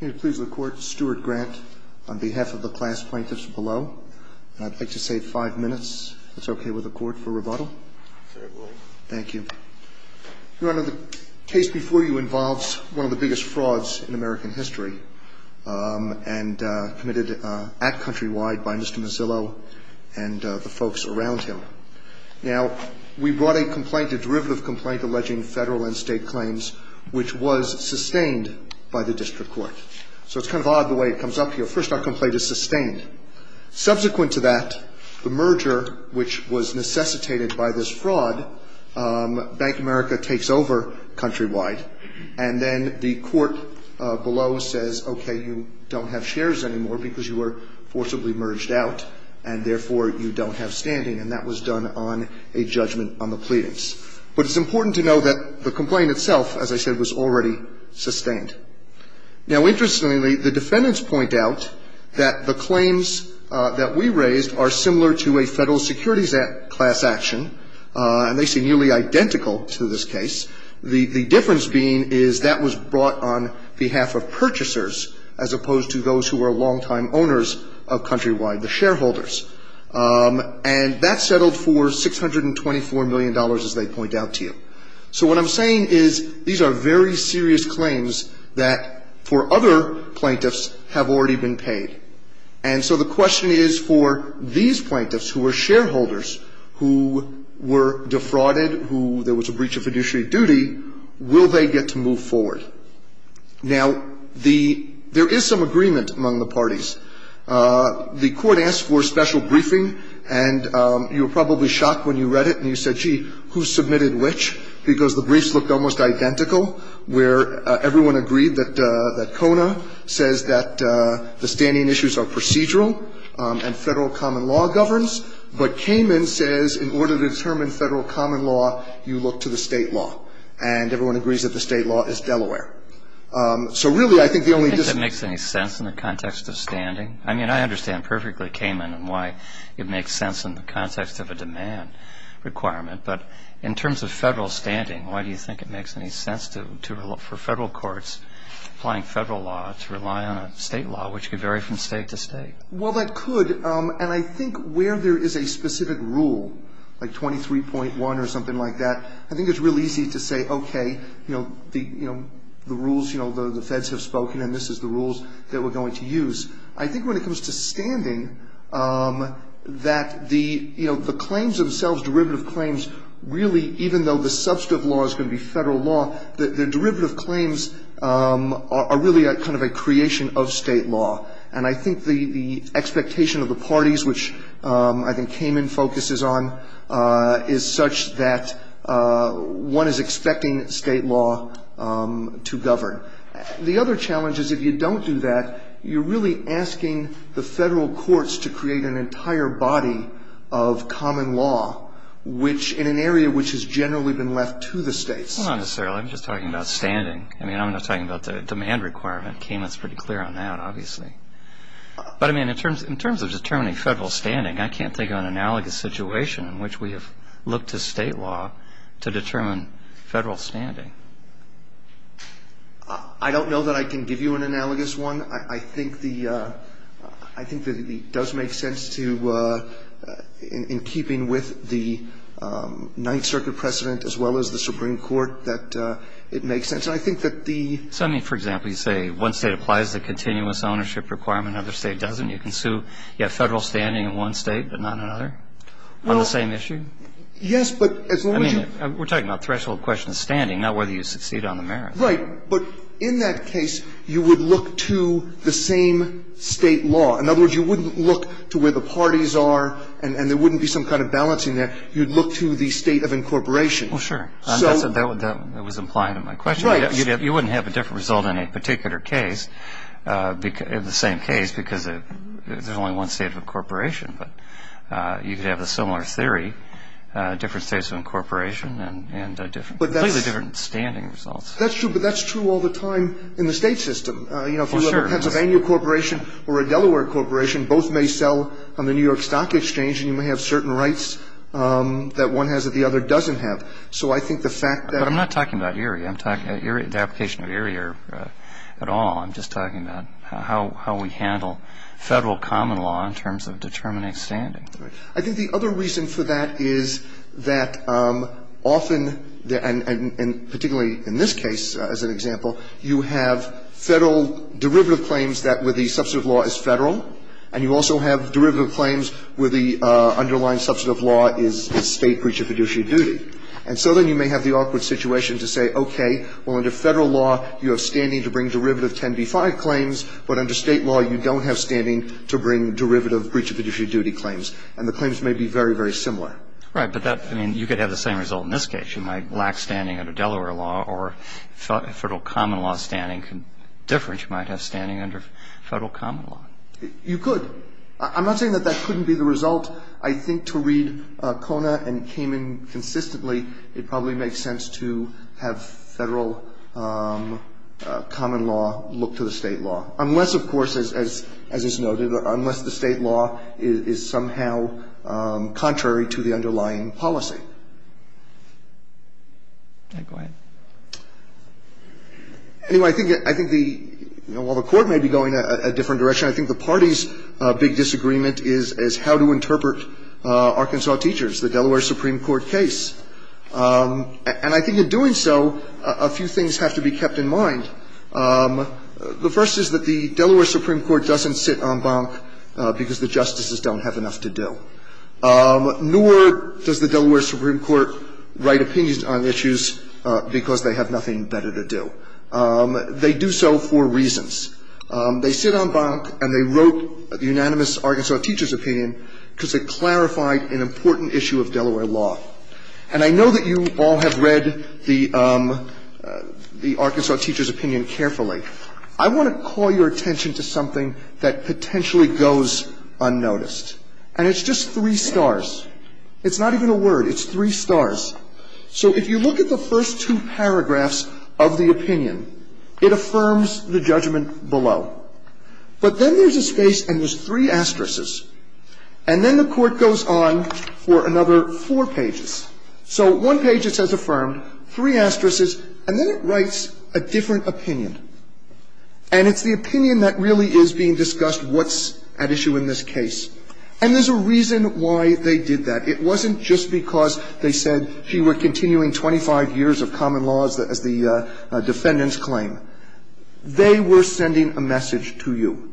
May it please the court, Stuart Grant, on behalf of the class plaintiffs below, and I'd like to save five minutes, if that's okay with the court, for rebuttal. Sure, it will. Thank you. Your Honor, the case before you involves one of the biggest frauds in American history, and committed at Countrywide by Mr. Mozilo and the folks around him. Now, we brought a complaint, a derivative complaint, alleging federal and state claims, which was sustained by the district court. So it's kind of odd the way it comes up here. First, our complaint is sustained. Subsequent to that, the merger, which was necessitated by this fraud, Bank of America takes over Countrywide, and then the court below says, okay, you don't have shares anymore because you were forcibly merged out, and therefore you don't have standing, and that was done on a judgment on the pleadings. But it's important to know that the complaint itself, as I said, was already sustained. Now, interestingly, the defendants point out that the claims that we raised are similar to a federal security class action, and they seem nearly identical to this case. The difference being is that was brought on behalf of purchasers, as opposed to those who were longtime owners of Countrywide, the shareholders. And that settled for $624 million, as they point out to you. So what I'm saying is these are very serious claims that, for other plaintiffs, have already been paid. And so the question is for these plaintiffs, who were shareholders, who were defrauded, who there was a breach of fiduciary duty, will they get to move forward? The court asked for a special briefing, and you were probably shocked when you read it, and you said, gee, who submitted which, because the briefs looked almost identical, where everyone agreed that Kona says that the standing issues are procedural, and federal common law governs. But Kamen says in order to determine federal common law, you look to the state law, and everyone agrees that the state law is Delaware. So really, I think the only dis- Do you think it makes any sense in the context of standing? I mean, I understand perfectly, Kamen, why it makes sense in the context of a demand requirement. But in terms of federal standing, why do you think it makes any sense for federal courts applying federal law to rely on a state law, which could vary from state to state? Well, that could. And I think where there is a specific rule, like 23.1 or something like that, I think it's real easy to say, okay, you know, the rules, you know, the feds have spoken, and this is the rules that we're going to use. I think when it comes to standing, that the, you know, the claims themselves, derivative claims, really, even though the substantive law is going to be federal law, the derivative claims are really kind of a creation of state law. And I think the expectation of the parties, which I think Kamen focuses on, is such that one is expecting state law to govern. The other challenge is if you don't do that, you're really asking the federal courts to create an entire body of common law, which in an area which has generally been left to the states. Well, not necessarily. I'm just talking about standing. I mean, I'm not talking about the demand requirement. Kamen is pretty clear on that, obviously. But, I mean, in terms of determining federal standing, I can't think of an analogous situation in which we have looked to state law to determine federal standing. I don't know that I can give you an analogous one. I think the – I think that it does make sense to, in keeping with the Ninth Circuit precedent as well as the Supreme Court, that it makes sense. And I think that the – So, I mean, for example, you say one state applies the continuous ownership requirement, another state doesn't. You can sue – you have federal standing in one state but not another on the same issue? Well, yes, but as long as you – I mean, we're talking about threshold questions standing, not whether you succeed on the merits. Right. But in that case, you would look to the same state law. In other words, you wouldn't look to where the parties are and there wouldn't be some kind of balancing there. You'd look to the state of incorporation. Well, sure. That was implied in my question. Right. You wouldn't have a different result in a particular case, the same case, because there's only one state of incorporation. But you could have a similar theory, different states of incorporation and completely different standing results. That's true. But that's true all the time in the state system. You know, if you have a Pennsylvania corporation or a Delaware corporation, both may sell on the New York Stock Exchange and you may have certain rights that one has that the other doesn't have. So I think the fact that – But I'm not talking about Erie. I'm talking – the application of Erie at all. I'm just talking about how we handle Federal common law in terms of determining standing. Right. I think the other reason for that is that often – and particularly in this case, as an example, you have Federal derivative claims that where the substantive law is Federal, and you also have derivative claims where the underlying substantive law is State breach of fiduciary duty. And so then you may have the awkward situation to say, okay, well, under Federal law, you have standing to bring derivative 10b-5 claims, but under State law you don't have standing to bring derivative breach of fiduciary duty claims. And the claims may be very, very similar. Right. But that – I mean, you could have the same result in this case. You might lack standing under Delaware law or Federal common law standing can – different, you might have standing under Federal common law. You could. I'm not saying that that couldn't be the result. I think to read Kona and Kamen consistently, it probably makes sense to have Federal common law look to the State law, unless, of course, as is noted, unless the State law is somehow contrary to the underlying policy. Go ahead. Anyway, I think the – while the Court may be going a different direction, I think the party's big disagreement is how to interpret Arkansas Teachers, the Delaware Supreme Court case. And I think in doing so, a few things have to be kept in mind. The first is that the Delaware Supreme Court doesn't sit en banc because the justices don't have enough to do. Nor does the Delaware Supreme Court write opinions on issues because they have nothing better to do. They do so for reasons. They sit en banc and they wrote the unanimous Arkansas Teachers opinion because it clarified an important issue of Delaware law. And I know that you all have read the Arkansas Teachers opinion carefully. I want to call your attention to something that potentially goes unnoticed. And it's just three stars. It's not even a word. It's three stars. So if you look at the first two paragraphs of the opinion, it affirms the judgment below. But then there's a space and there's three asterisks. And then the Court goes on for another four pages. So one page it says affirmed, three asterisks, and then it writes a different opinion. And it's the opinion that really is being discussed what's at issue in this case. And there's a reason why they did that. It wasn't just because they said she were continuing 25 years of common laws as the defendant's claim. They were sending a message to you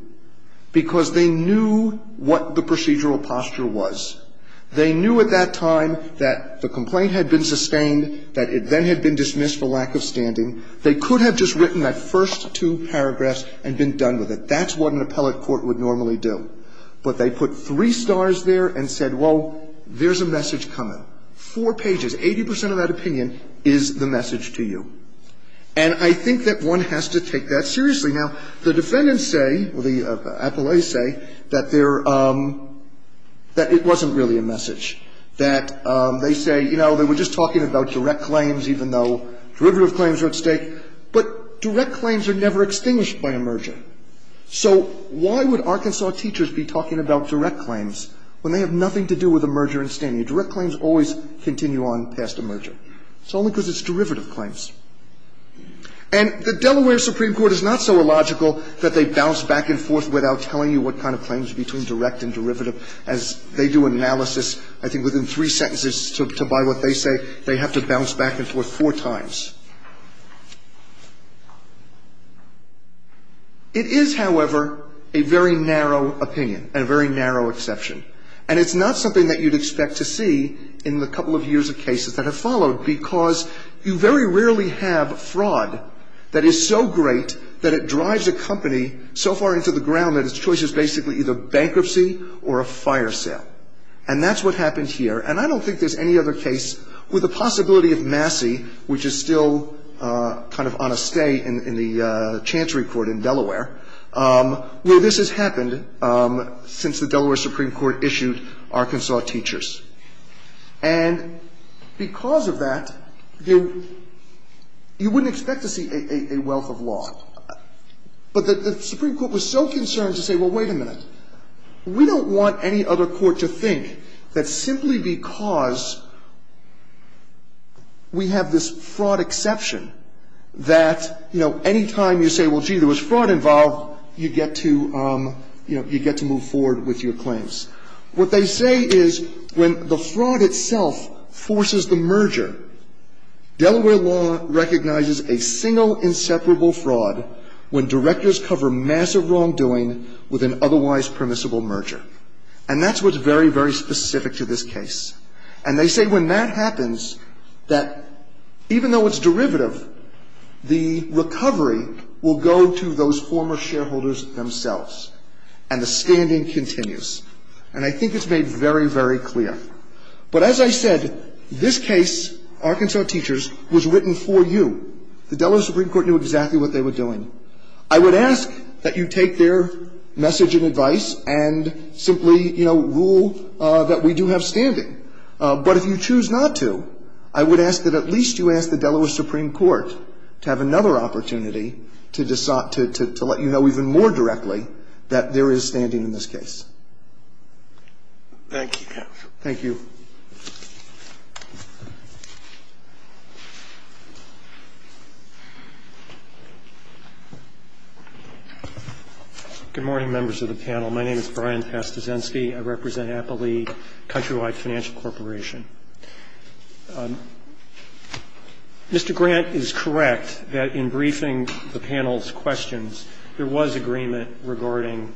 because they knew what the procedural posture was. They knew at that time that the complaint had been sustained, that it then had been dismissed for lack of standing. They could have just written that first two paragraphs and been done with it. That's what an appellate court would normally do. But they put three stars there and said, well, there's a message coming. Four pages, 80 percent of that opinion is the message to you. And I think that one has to take that seriously. Now, the defendants say, or the appellates say, that there, that it wasn't really a message, that they say, you know, they were just talking about direct claims even though derivative claims are at stake. But direct claims are never extinguished by a merger. So why would Arkansas teachers be talking about direct claims when they have nothing to do with a merger and standing? Direct claims always continue on past a merger. It's only because it's derivative claims. And the Delaware Supreme Court is not so illogical that they bounce back and forth without telling you what kind of claims are between direct and derivative. As they do analysis, I think within three sentences to buy what they say, they have to bounce back and forth four times. It is, however, a very narrow opinion and a very narrow exception. And it's not something that you'd expect to see in the couple of years of cases that have followed because you very rarely have fraud that is so great that it drives a company so far into the ground that its choice is basically either bankruptcy or a fire sale. And that's what happened here. And I don't think there's any other case with the possibility of Massey, which is still kind of on a stay in the Chancery Court in Delaware, where this has happened since the Delaware Supreme Court issued Arkansas teachers. And because of that, you wouldn't expect to see a wealth of law. But the Supreme Court was so concerned to say, well, wait a minute, we don't want any other court to think that simply because we have this fraud exception that, you know, any time you say, well, gee, there was fraud involved, you get to, you know, you get to move forward with your claims. What they say is when the fraud itself forces the merger, Delaware law recognizes a single inseparable fraud when directors cover massive wrongdoing with an otherwise permissible merger. And that's what's very, very specific to this case. And they say when that happens, that even though it's derivative, the recovery will go to those former shareholders themselves, and the standing continues. And I think it's made very, very clear. But as I said, this case, Arkansas teachers, was written for you. The Delaware Supreme Court knew exactly what they were doing. I would ask that you take their message and advice and simply, you know, rule that we do have standing. But if you choose not to, I would ask that at least you ask the Delaware Supreme Court to have another opportunity to let you know even more directly that there is standing in this case. Thank you, counsel. Thank you. Good morning, members of the panel. My name is Brian Pastazensky. I represent Applee Countrywide Financial Corporation. Mr. Grant is correct that in briefing the panel's questions, there was agreement regarding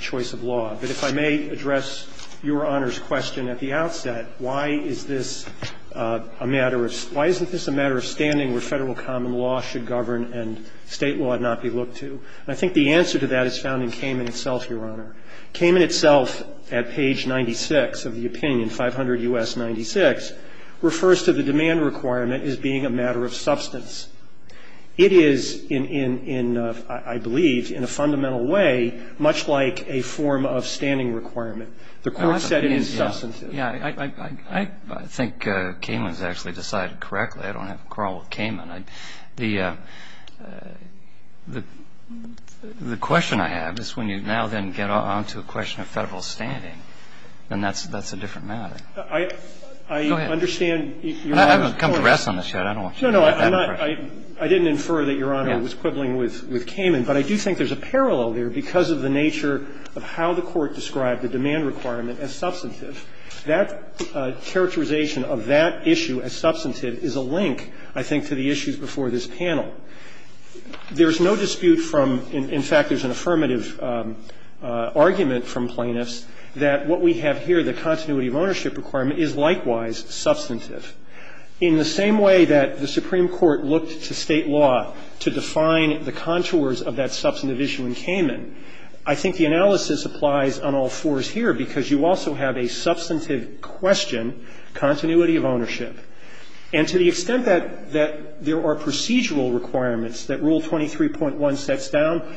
choice of law. But if I may address Your Honor's question at the outset, why is this a matter of why isn't this a matter of standing where Federal common law should govern and State law not be looked to? And I think the answer to that is found in Cayman itself, Your Honor. Cayman itself at page 96 of the opinion, 500 U.S. 96, refers to the demand requirement as being a matter of substance. It is in, I believe, in a fundamental way much like a form of standing requirement. The Court said it is substantive. I think Cayman has actually decided correctly. I don't have a quarrel with Cayman. The question I have is when you now then get on to a question of Federal standing, then that's a different matter. Go ahead. I understand Your Honor's point. I haven't come to rest on this yet. Your Honor, I'm afraid. No, no, I'm not. I didn't infer that Your Honor was quibbling with Cayman. But I do think there's a parallel there because of the nature of how the Court described the demand requirement as substantive. That characterization of that issue as substantive is a link, I think, to the issues before this panel. There's no dispute from, in fact, there's an affirmative argument from plaintiffs that what we have here, the continuity of ownership requirement, is likewise substantive. In the same way that the Supreme Court looked to State law to define the contours of that substantive issue in Cayman, I think the analysis applies on all fours here because you also have a substantive question, continuity of ownership. And to the extent that there are procedural requirements that Rule 23.1 sets down,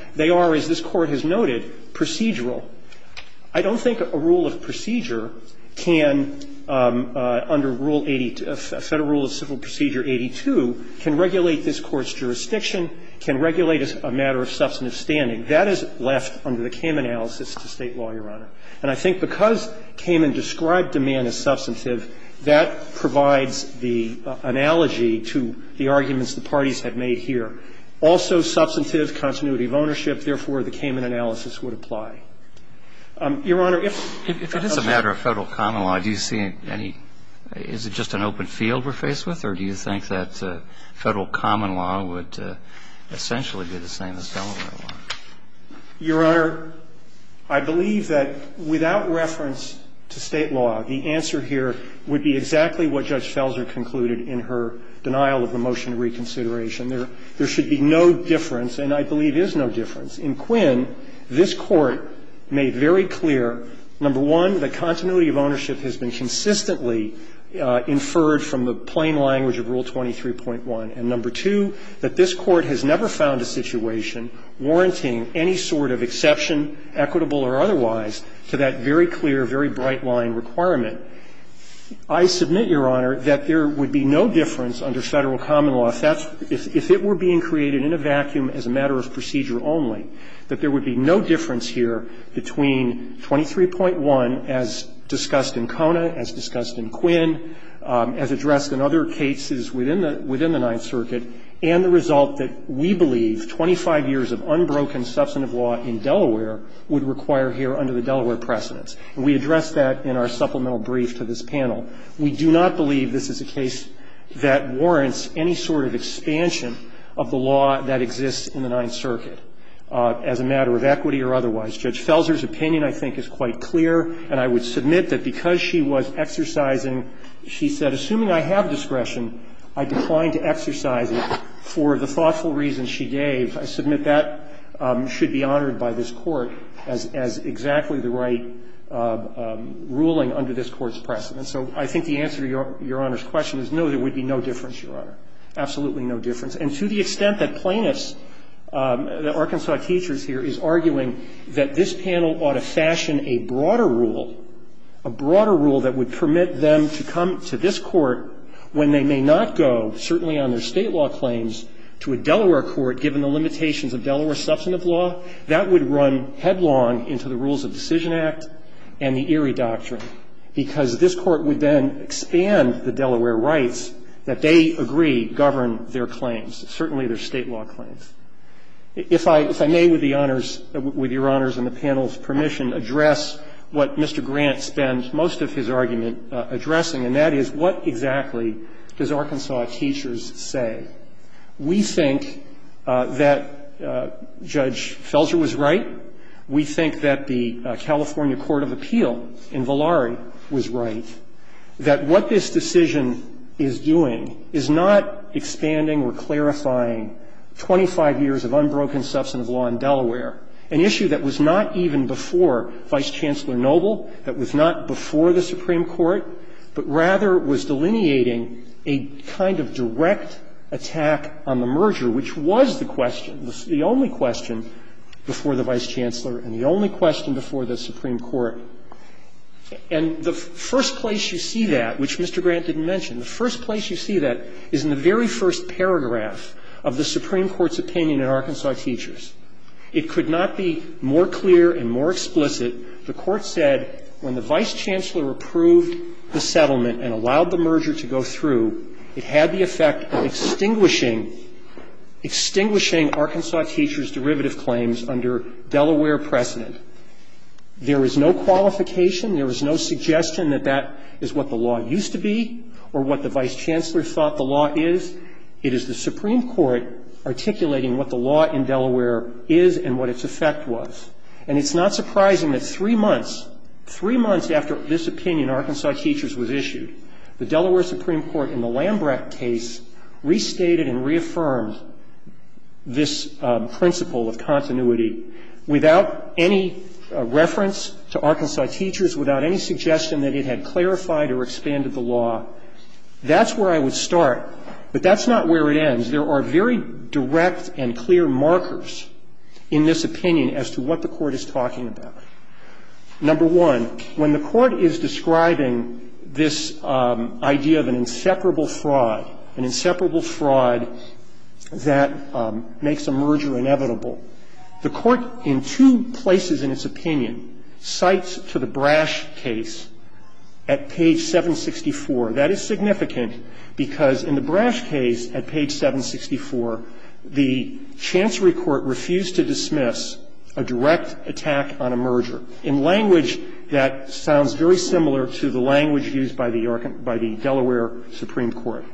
I don't think a rule of procedure can, under Rule 82, Federal Rule of Civil Procedure 82, can regulate this Court's jurisdiction, can regulate a matter of substantive standing. That is left under the Cayman analysis to State law, Your Honor. And I think because Cayman described demand as substantive, that provides the analogy to the arguments the parties have made here. Also substantive, continuity of ownership, therefore, the Cayman analysis would apply. Your Honor, if it is a matter of Federal common law, do you see any, is it just an open field we're faced with, or do you think that Federal common law would essentially be the same as Delaware law? Your Honor, I believe that without reference to State law, the answer here would be exactly what Judge Felser concluded in her denial of the motion of reconsideration. There should be no difference, and I believe is no difference. In Quinn, this Court made very clear, number one, that continuity of ownership has been consistently inferred from the plain language of Rule 23.1, and number two, that this Court has never found a situation warranting any sort of exception, equitable or otherwise, to that very clear, very bright-line requirement. I submit, Your Honor, that there would be no difference under Federal common law if it were being created in a vacuum as a matter of procedure only, that there would be no difference here between 23.1 as discussed in Kona, as discussed in Quinn, as addressed in other cases within the Ninth Circuit, and the result that we believe 25 years of unbroken substantive law in Delaware would require here under the Delaware precedents. And we addressed that in our supplemental brief to this panel. We do not believe this is a case that warrants any sort of expansion of the law that exists in the Ninth Circuit as a matter of equity or otherwise. Judge Felser's opinion, I think, is quite clear, and I would submit that because she was exercising, she said, assuming I have discretion, I decline to exercise it for the thoughtful reasons she gave. I submit that should be honored by this Court as exactly the right ruling under this Court's precedent. So I think the answer to Your Honor's question is no, there would be no difference, Your Honor, absolutely no difference. And to the extent that Plaintiffs, the Arkansas teachers here, is arguing that this panel ought to fashion a broader rule, a broader rule that would permit them to come to this Court when they may not go, certainly on their State law claims, to a Delaware court, given the limitations of Delaware substantive law, that would run headlong into the Rules of Decision Act and the Erie Doctrine, because this Court would then expand the Delaware rights that they agree govern their claims, certainly their State law claims. If I may, with the Honors, with Your Honors and the panel's permission, address what Mr. Grant spends most of his argument addressing, and that is what exactly does Arkansas teachers say? We think that Judge Felger was right. We think that the California Court of Appeal in Volare was right, that what this decision is doing is not expanding or clarifying 25 years of unbroken substantive law in Delaware, an issue that was not even before Vice Chancellor Noble, that was not before the Supreme Court, but rather was delineating a kind of direct attack on the merger, which was the question, the only question before the Vice Chancellor and the only question before the Supreme Court. And the first place you see that, which Mr. Grant didn't mention, the first place you see that is in the very first paragraph of the Supreme Court's opinion in Arkansas teachers. It could not be more clear and more explicit. The Court said when the Vice Chancellor approved the settlement and allowed the merger to go through, it had the effect of extinguishing, extinguishing Arkansas teachers' derivative claims under Delaware precedent. There is no qualification. There is no suggestion that that is what the law used to be or what the Vice Chancellor thought the law is. It is the Supreme Court articulating what the law in Delaware is and what its effect was. And it's not surprising that three months, three months after this opinion, Arkansas teachers, was issued, the Delaware Supreme Court in the Lambrecht case restated and reaffirmed this principle of continuity without any reference to Arkansas teachers, without any suggestion that it had clarified or expanded the law. That's where I would start, but that's not where it ends. There are very direct and clear markers in this opinion as to what the Court is talking about. Number one, when the Court is describing this idea of an inseparable fraud, an inseparable fraud that makes a merger inevitable, the Court in two places in its opinion cites a reference to the Brash case at page 764. That is significant because in the Brash case at page 764, the Chancery Court refused to dismiss a direct attack on a merger in language that sounds very similar to the language used by the Delaware Supreme Court.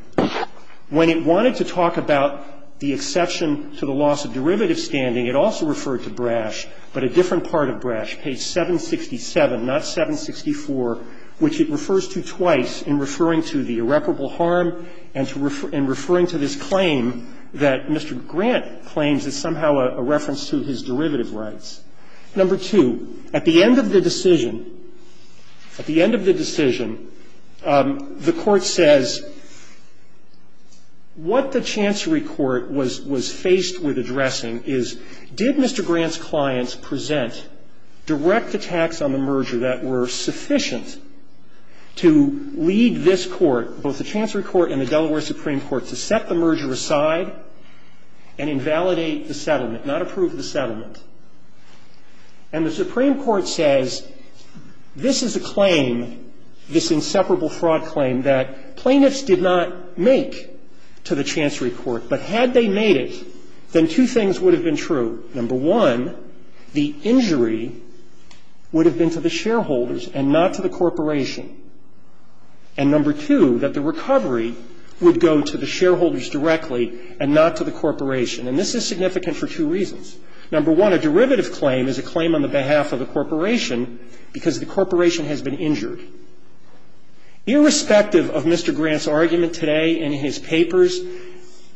When it wanted to talk about the exception to the loss of derivative standing, it also referred to Brash, but a different part of Brash, page 767, not 764, which it refers to twice in referring to the irreparable harm and referring to this claim that Mr. Grant claims is somehow a reference to his derivative rights. Number two, at the end of the decision, at the end of the decision, the Court says what the Chancery Court was faced with addressing is, did Mr. Grant's clients present direct attacks on the merger that were sufficient to lead this Court, both the Chancery Court and the Delaware Supreme Court, to set the merger aside and invalidate the settlement, not approve the settlement? And the Supreme Court says this is a claim, this inseparable fraud claim that plaintiffs did not make to the Chancery Court, but had they made it, then two things would have been true. Number one, the injury would have been to the shareholders and not to the corporation. And number two, that the recovery would go to the shareholders directly and not to the corporation. And this is significant for two reasons. Number one, a derivative claim is a claim on the behalf of the corporation because the corporation has been injured. Irrespective of Mr. Grant's argument today in his papers,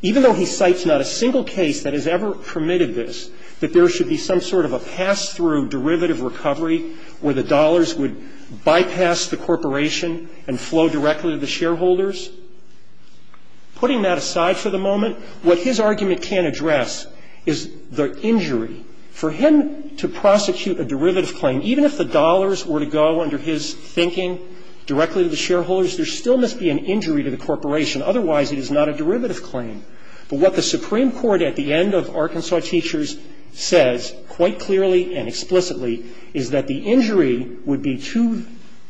even though he cites not a single case that has ever permitted this, that there should be some sort of a pass-through derivative recovery where the dollars would bypass the corporation and flow directly to the shareholders, putting that aside for the moment, what his argument can't address is the injury For him to prosecute a derivative claim, even if the dollars were to go under his thinking directly to the shareholders, there still must be an injury to the corporation. Otherwise, it is not a derivative claim. But what the Supreme Court at the end of Arkansas Teachers says quite clearly and explicitly is that the injury would be to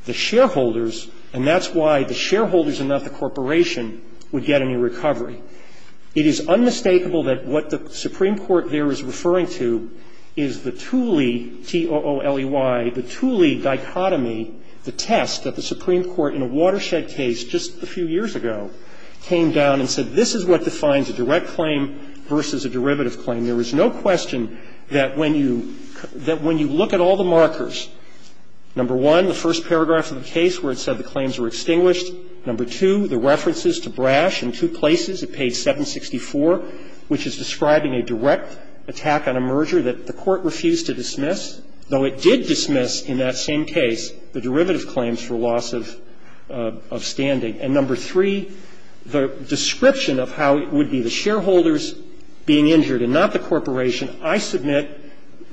the shareholders, and that's why the shareholders and not the corporation would get any recovery. It is unmistakable that what the Supreme Court there is referring to is the Thule, T-O-O-L-E-Y, the Thule dichotomy, the test that the Supreme Court in a Watershed case just a few years ago came down and said this is what defines a direct claim versus a derivative claim. There is no question that when you look at all the markers, number one, the first paragraph of the case where it said the claims were extinguished, number two, the references to Brash in two places at page 764, which is describing a direct attack on a merger that the Court refused to dismiss, though it did dismiss in that same case the derivative claims for loss of standing. And number three, the description of how it would be the shareholders being injured and not the corporation, I submit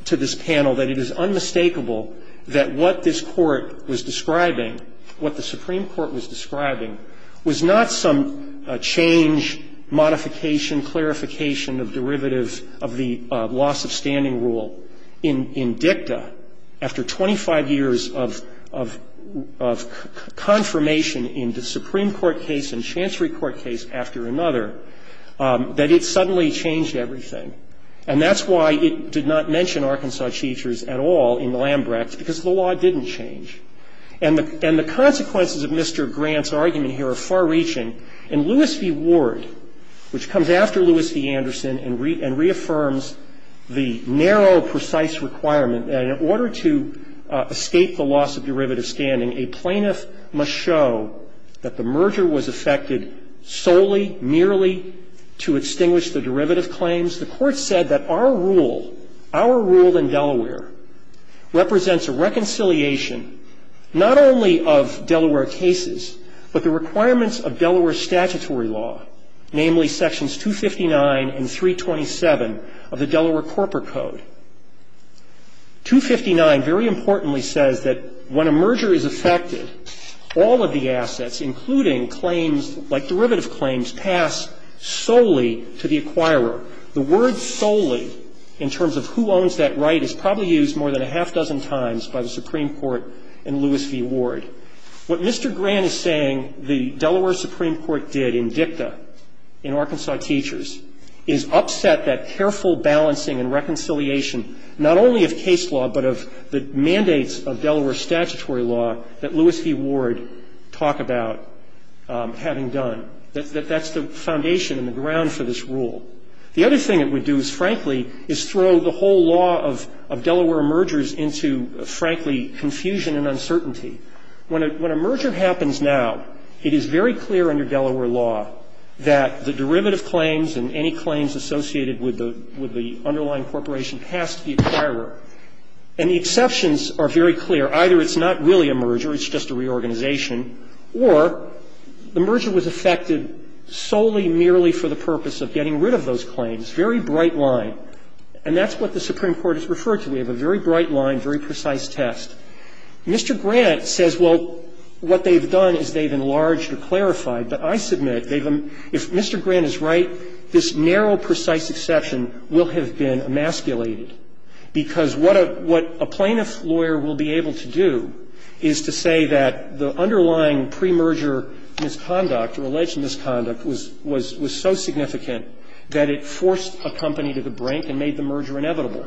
to this panel that it is unmistakable that what this Court was describing, what the Supreme Court was describing, was not some change, modification, clarification of derivatives of the loss of standing rule. In dicta, after 25 years of confirmation in the Supreme Court case and chancery court case after another, that it suddenly changed everything. And that's why it did not mention Arkansas Cheaters at all in Lambrecht, because the law didn't change. And the consequences of Mr. Grant's argument here are far-reaching. In Lewis v. Ward, which comes after Lewis v. Anderson and reaffirms the narrow, precise requirement that in order to escape the loss of derivative standing, a plaintiff must show that the merger was affected solely, merely to extinguish the derivative claims, the Court said that our rule, our rule in Delaware, represents a reconciliation not only of Delaware cases, but the requirements of Delaware statutory law, namely sections 259 and 327 of the Delaware Corporate Code. 259, very importantly, says that when a merger is affected, all of the assets, including claims like derivative claims, pass solely to the acquirer. The word solely, in terms of who owns that right, is probably used more than a half-dozen times by the Supreme Court in Lewis v. Ward. What Mr. Grant is saying the Delaware Supreme Court did in dicta in Arkansas Cheaters is upset that careful balancing and reconciliation not only of case law, but of the mandates of Delaware statutory law that Lewis v. Ward talk about having done. That's the foundation and the ground for this rule. The other thing it would do is, frankly, is throw the whole law of Delaware mergers into, frankly, confusion and uncertainty. When a merger happens now, it is very clear that it's not really a merger, it's just a reorganization, or the merger was affected solely, merely for the purpose of getting rid of those claims. Very bright line. And that's what the Supreme Court has referred to. We have a very bright line, very precise test. Mr. Grant says, well, what they've done is they've enlarged or clarified, but I submit, if Mr. Grant is right, this narrow, precise exception will have been emasculated, because what a plaintiff's lawyer will be able to do is to say that the underlying premerger misconduct or alleged misconduct was so significant that it forced a company to the brink and made the merger inevitable.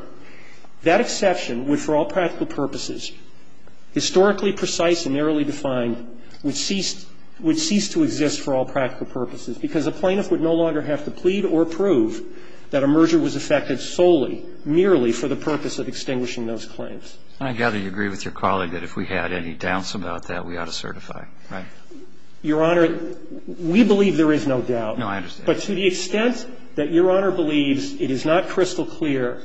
That exception would, for all practical purposes, historically precise and narrowly defined, would cease to exist for all practical purposes, because a plaintiff would no longer have to plead or prove that a merger was affected solely, merely for the purpose of extinguishing those claims. And I gather you agree with your colleague that if we had any doubts about that, we ought to certify, right? Your Honor, we believe there is no doubt. No, I understand. But to the extent that Your Honor believes it is not crystal clear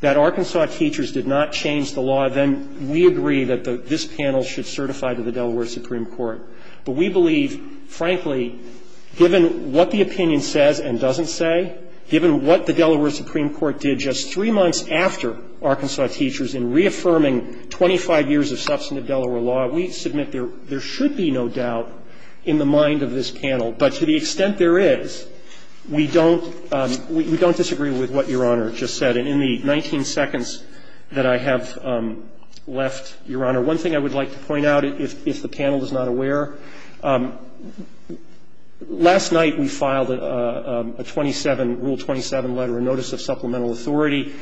that Arkansas teachers did not change the law, then we agree that this panel should certify to the Delaware Supreme Court. But we believe, frankly, given what the opinion says and doesn't say, given what the Delaware Supreme Court did just three months after Arkansas teachers in reaffirming 25 years of substantive Delaware law, we submit there should be no doubt in the mind of this panel. But to the extent there is, we don't disagree with what Your Honor just said. And in the 19 seconds that I have left, Your Honor, one thing I would like to point out, if the panel is not aware, last night we filed a 27, Rule 27 letter, a notice of supplemental authority.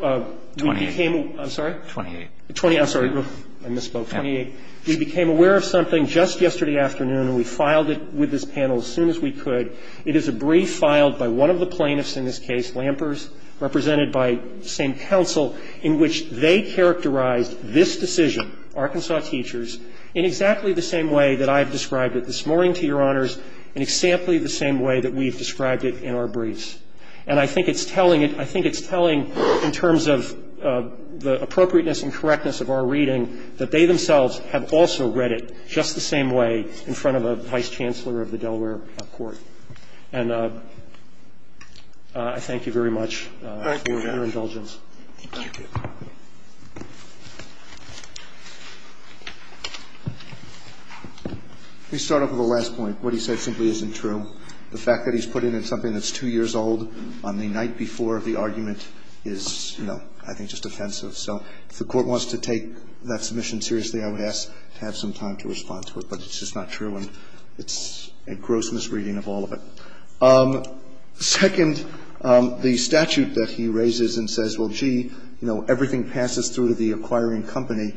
We became a – I'm sorry? 28. I'm sorry. I misspoke. 28. We became aware of something just yesterday afternoon. We filed it with this panel as soon as we could. It is a brief filed by one of the plaintiffs in this case, Lampers, represented by the same counsel in which they characterized this decision, Arkansas teachers, in exactly the same way that I have described it this morning, to Your Honors, in exactly the same way that we have described it in our briefs. And I think it's telling – I think it's telling in terms of the appropriateness and correctness of our reading that they themselves have also read it just the same way in front of a vice chancellor of the Delaware court. And I thank you very much for your indulgence. Thank you. Thank you. Let me start off with the last point. What he said simply isn't true. The fact that he's put it in something that's two years old on the night before the argument is, you know, I think just offensive. So if the Court wants to take that submission seriously, I would ask to have some time to respond to it. But it's just not true. And it's a gross misreading of all of it. Second, the statute that he raises and says, well, gee, you know, everything passes through to the acquiring company,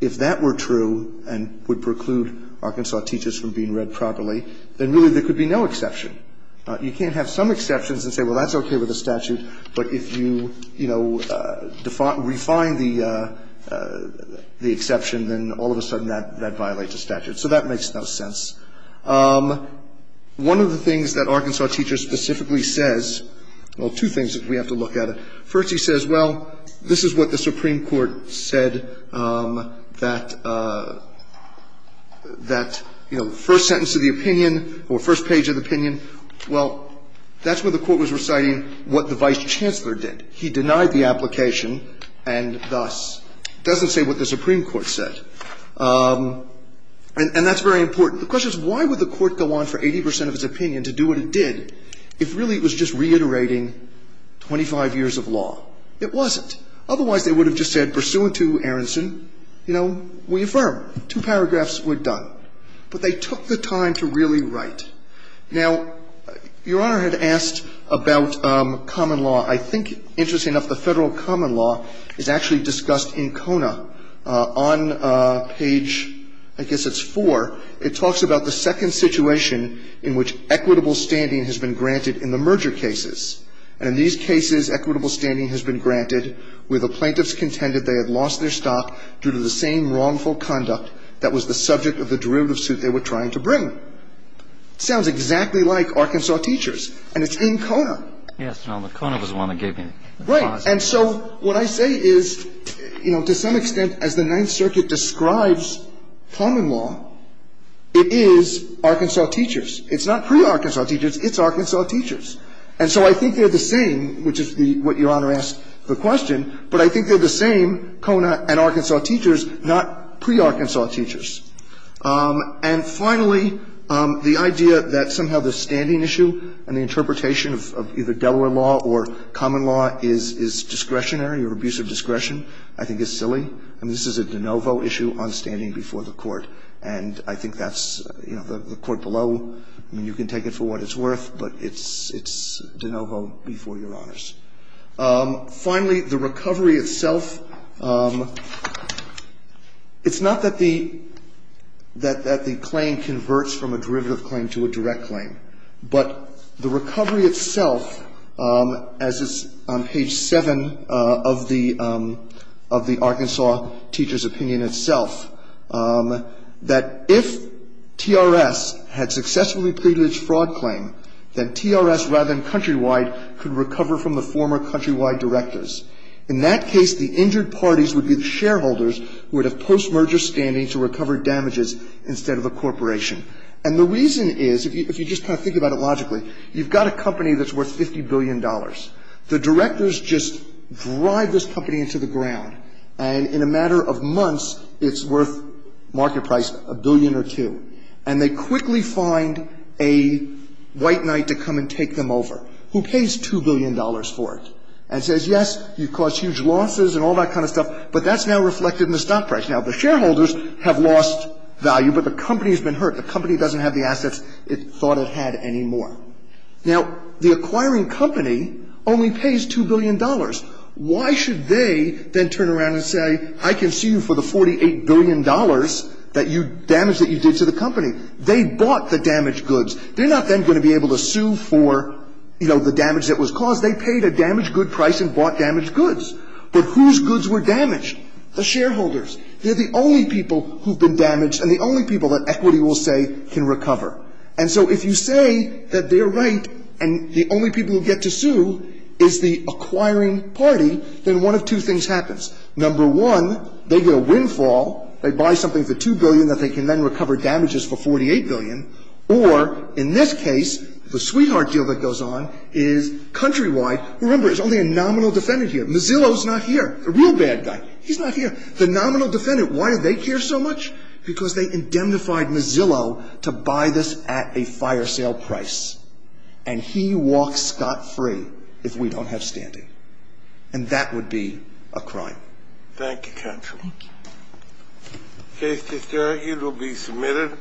if that were true and would preclude Arkansas teachers from being read properly, then really there could be no exception. You can't have some exceptions and say, well, that's okay with the statute, but if you, you know, refine the exception, then all of a sudden that violates the statute. So that makes no sense. One of the things that Arkansas teachers specifically says, well, two things that we have to look at. First, he says, well, this is what the Supreme Court said that, you know, the first sentence of the opinion or first page of the opinion, well, that's what the Court was reciting what the Vice Chancellor did. He denied the application and thus doesn't say what the Supreme Court said. And that's very important. The question is, why would the Court go on for 80 percent of its opinion to do what it did if really it was just reiterating 25 years of law? It wasn't. Otherwise, they would have just said, pursuant to Aronson, you know, we affirm. Two paragraphs, we're done. But they took the time to really write. Now, Your Honor had asked about common law. I think, interestingly enough, the Federal common law is actually discussed in Kona on page, I guess it's four. It talks about the second situation in which equitable standing has been granted in the merger cases. And in these cases, equitable standing has been granted where the plaintiffs contended they had lost their stock due to the same wrongful conduct that was the subject of the derivative suit they were trying to bring. It sounds exactly like Arkansas teachers. And it's in Kona. Yes, Your Honor. Kona was the one that gave me the pause. Right. And so what I say is, you know, to some extent, as the Ninth Circuit describes common law, it is Arkansas teachers. It's not pre-Arkansas teachers. It's Arkansas teachers. And so I think they're the same, which is what Your Honor asked the question, but I think they're the same, Kona and Arkansas teachers, not pre-Arkansas teachers. And finally, the idea that somehow the standing issue and the interpretation of either Delaware law or common law is discretionary or abuse of discretion I think is silly. I mean, this is a de novo issue on standing before the Court. And I think that's, you know, the Court below, I mean, you can take it for what it's worth, but it's de novo before Your Honors. Finally, the recovery itself, it's not that the claim converts from a derivative claim to a direct claim, but the recovery itself, as is on page 7 of the Arkansas teachers' opinion itself, that if TRS had successfully pleaded its fraud claim, that TRS rather than Countrywide could recover from the former Countrywide directors. In that case, the injured parties would be the shareholders who would have post-merger standing to recover damages instead of a corporation. And the reason is, if you just kind of think about it logically, you've got a company that's worth $50 billion. The directors just drive this company into the ground, and in a matter of months it's worth, market price, a billion or two. And they quickly find a white knight to come and take them over who pays $2 billion for it and says, yes, you caused huge losses and all that kind of stuff, but that's now reflected in the stock price. Now, the shareholders have lost value, but the company has been hurt. The company doesn't have the assets it thought it had anymore. Now, the acquiring company only pays $2 billion. Why should they then turn around and say, I can sue you for the $48 billion that you damaged that you did to the company? They bought the damaged goods. They're not then going to be able to sue for, you know, the damage that was caused. They paid a damaged good price and bought damaged goods. But whose goods were damaged? The shareholders. They're the only people who've been damaged and the only people that equity will say can recover. And so if you say that they're right and the only people who get to sue is the acquiring party, then one of two things happens. Number one, they get a windfall, they buy something for $2 billion that they can then recover damages for $48 billion, or in this case, the sweetheart deal that goes on is countrywide. Remember, there's only a nominal defendant here. Mazzillo's not here, the real bad guy. He's not here. The nominal defendant, why do they care so much? Because they indemnified Mazzillo to buy this at a fire sale price. And he walks scot-free if we don't have standing. And that would be a crime. Thank you, counsel. Thank you. The case is adjourned. It will be submitted.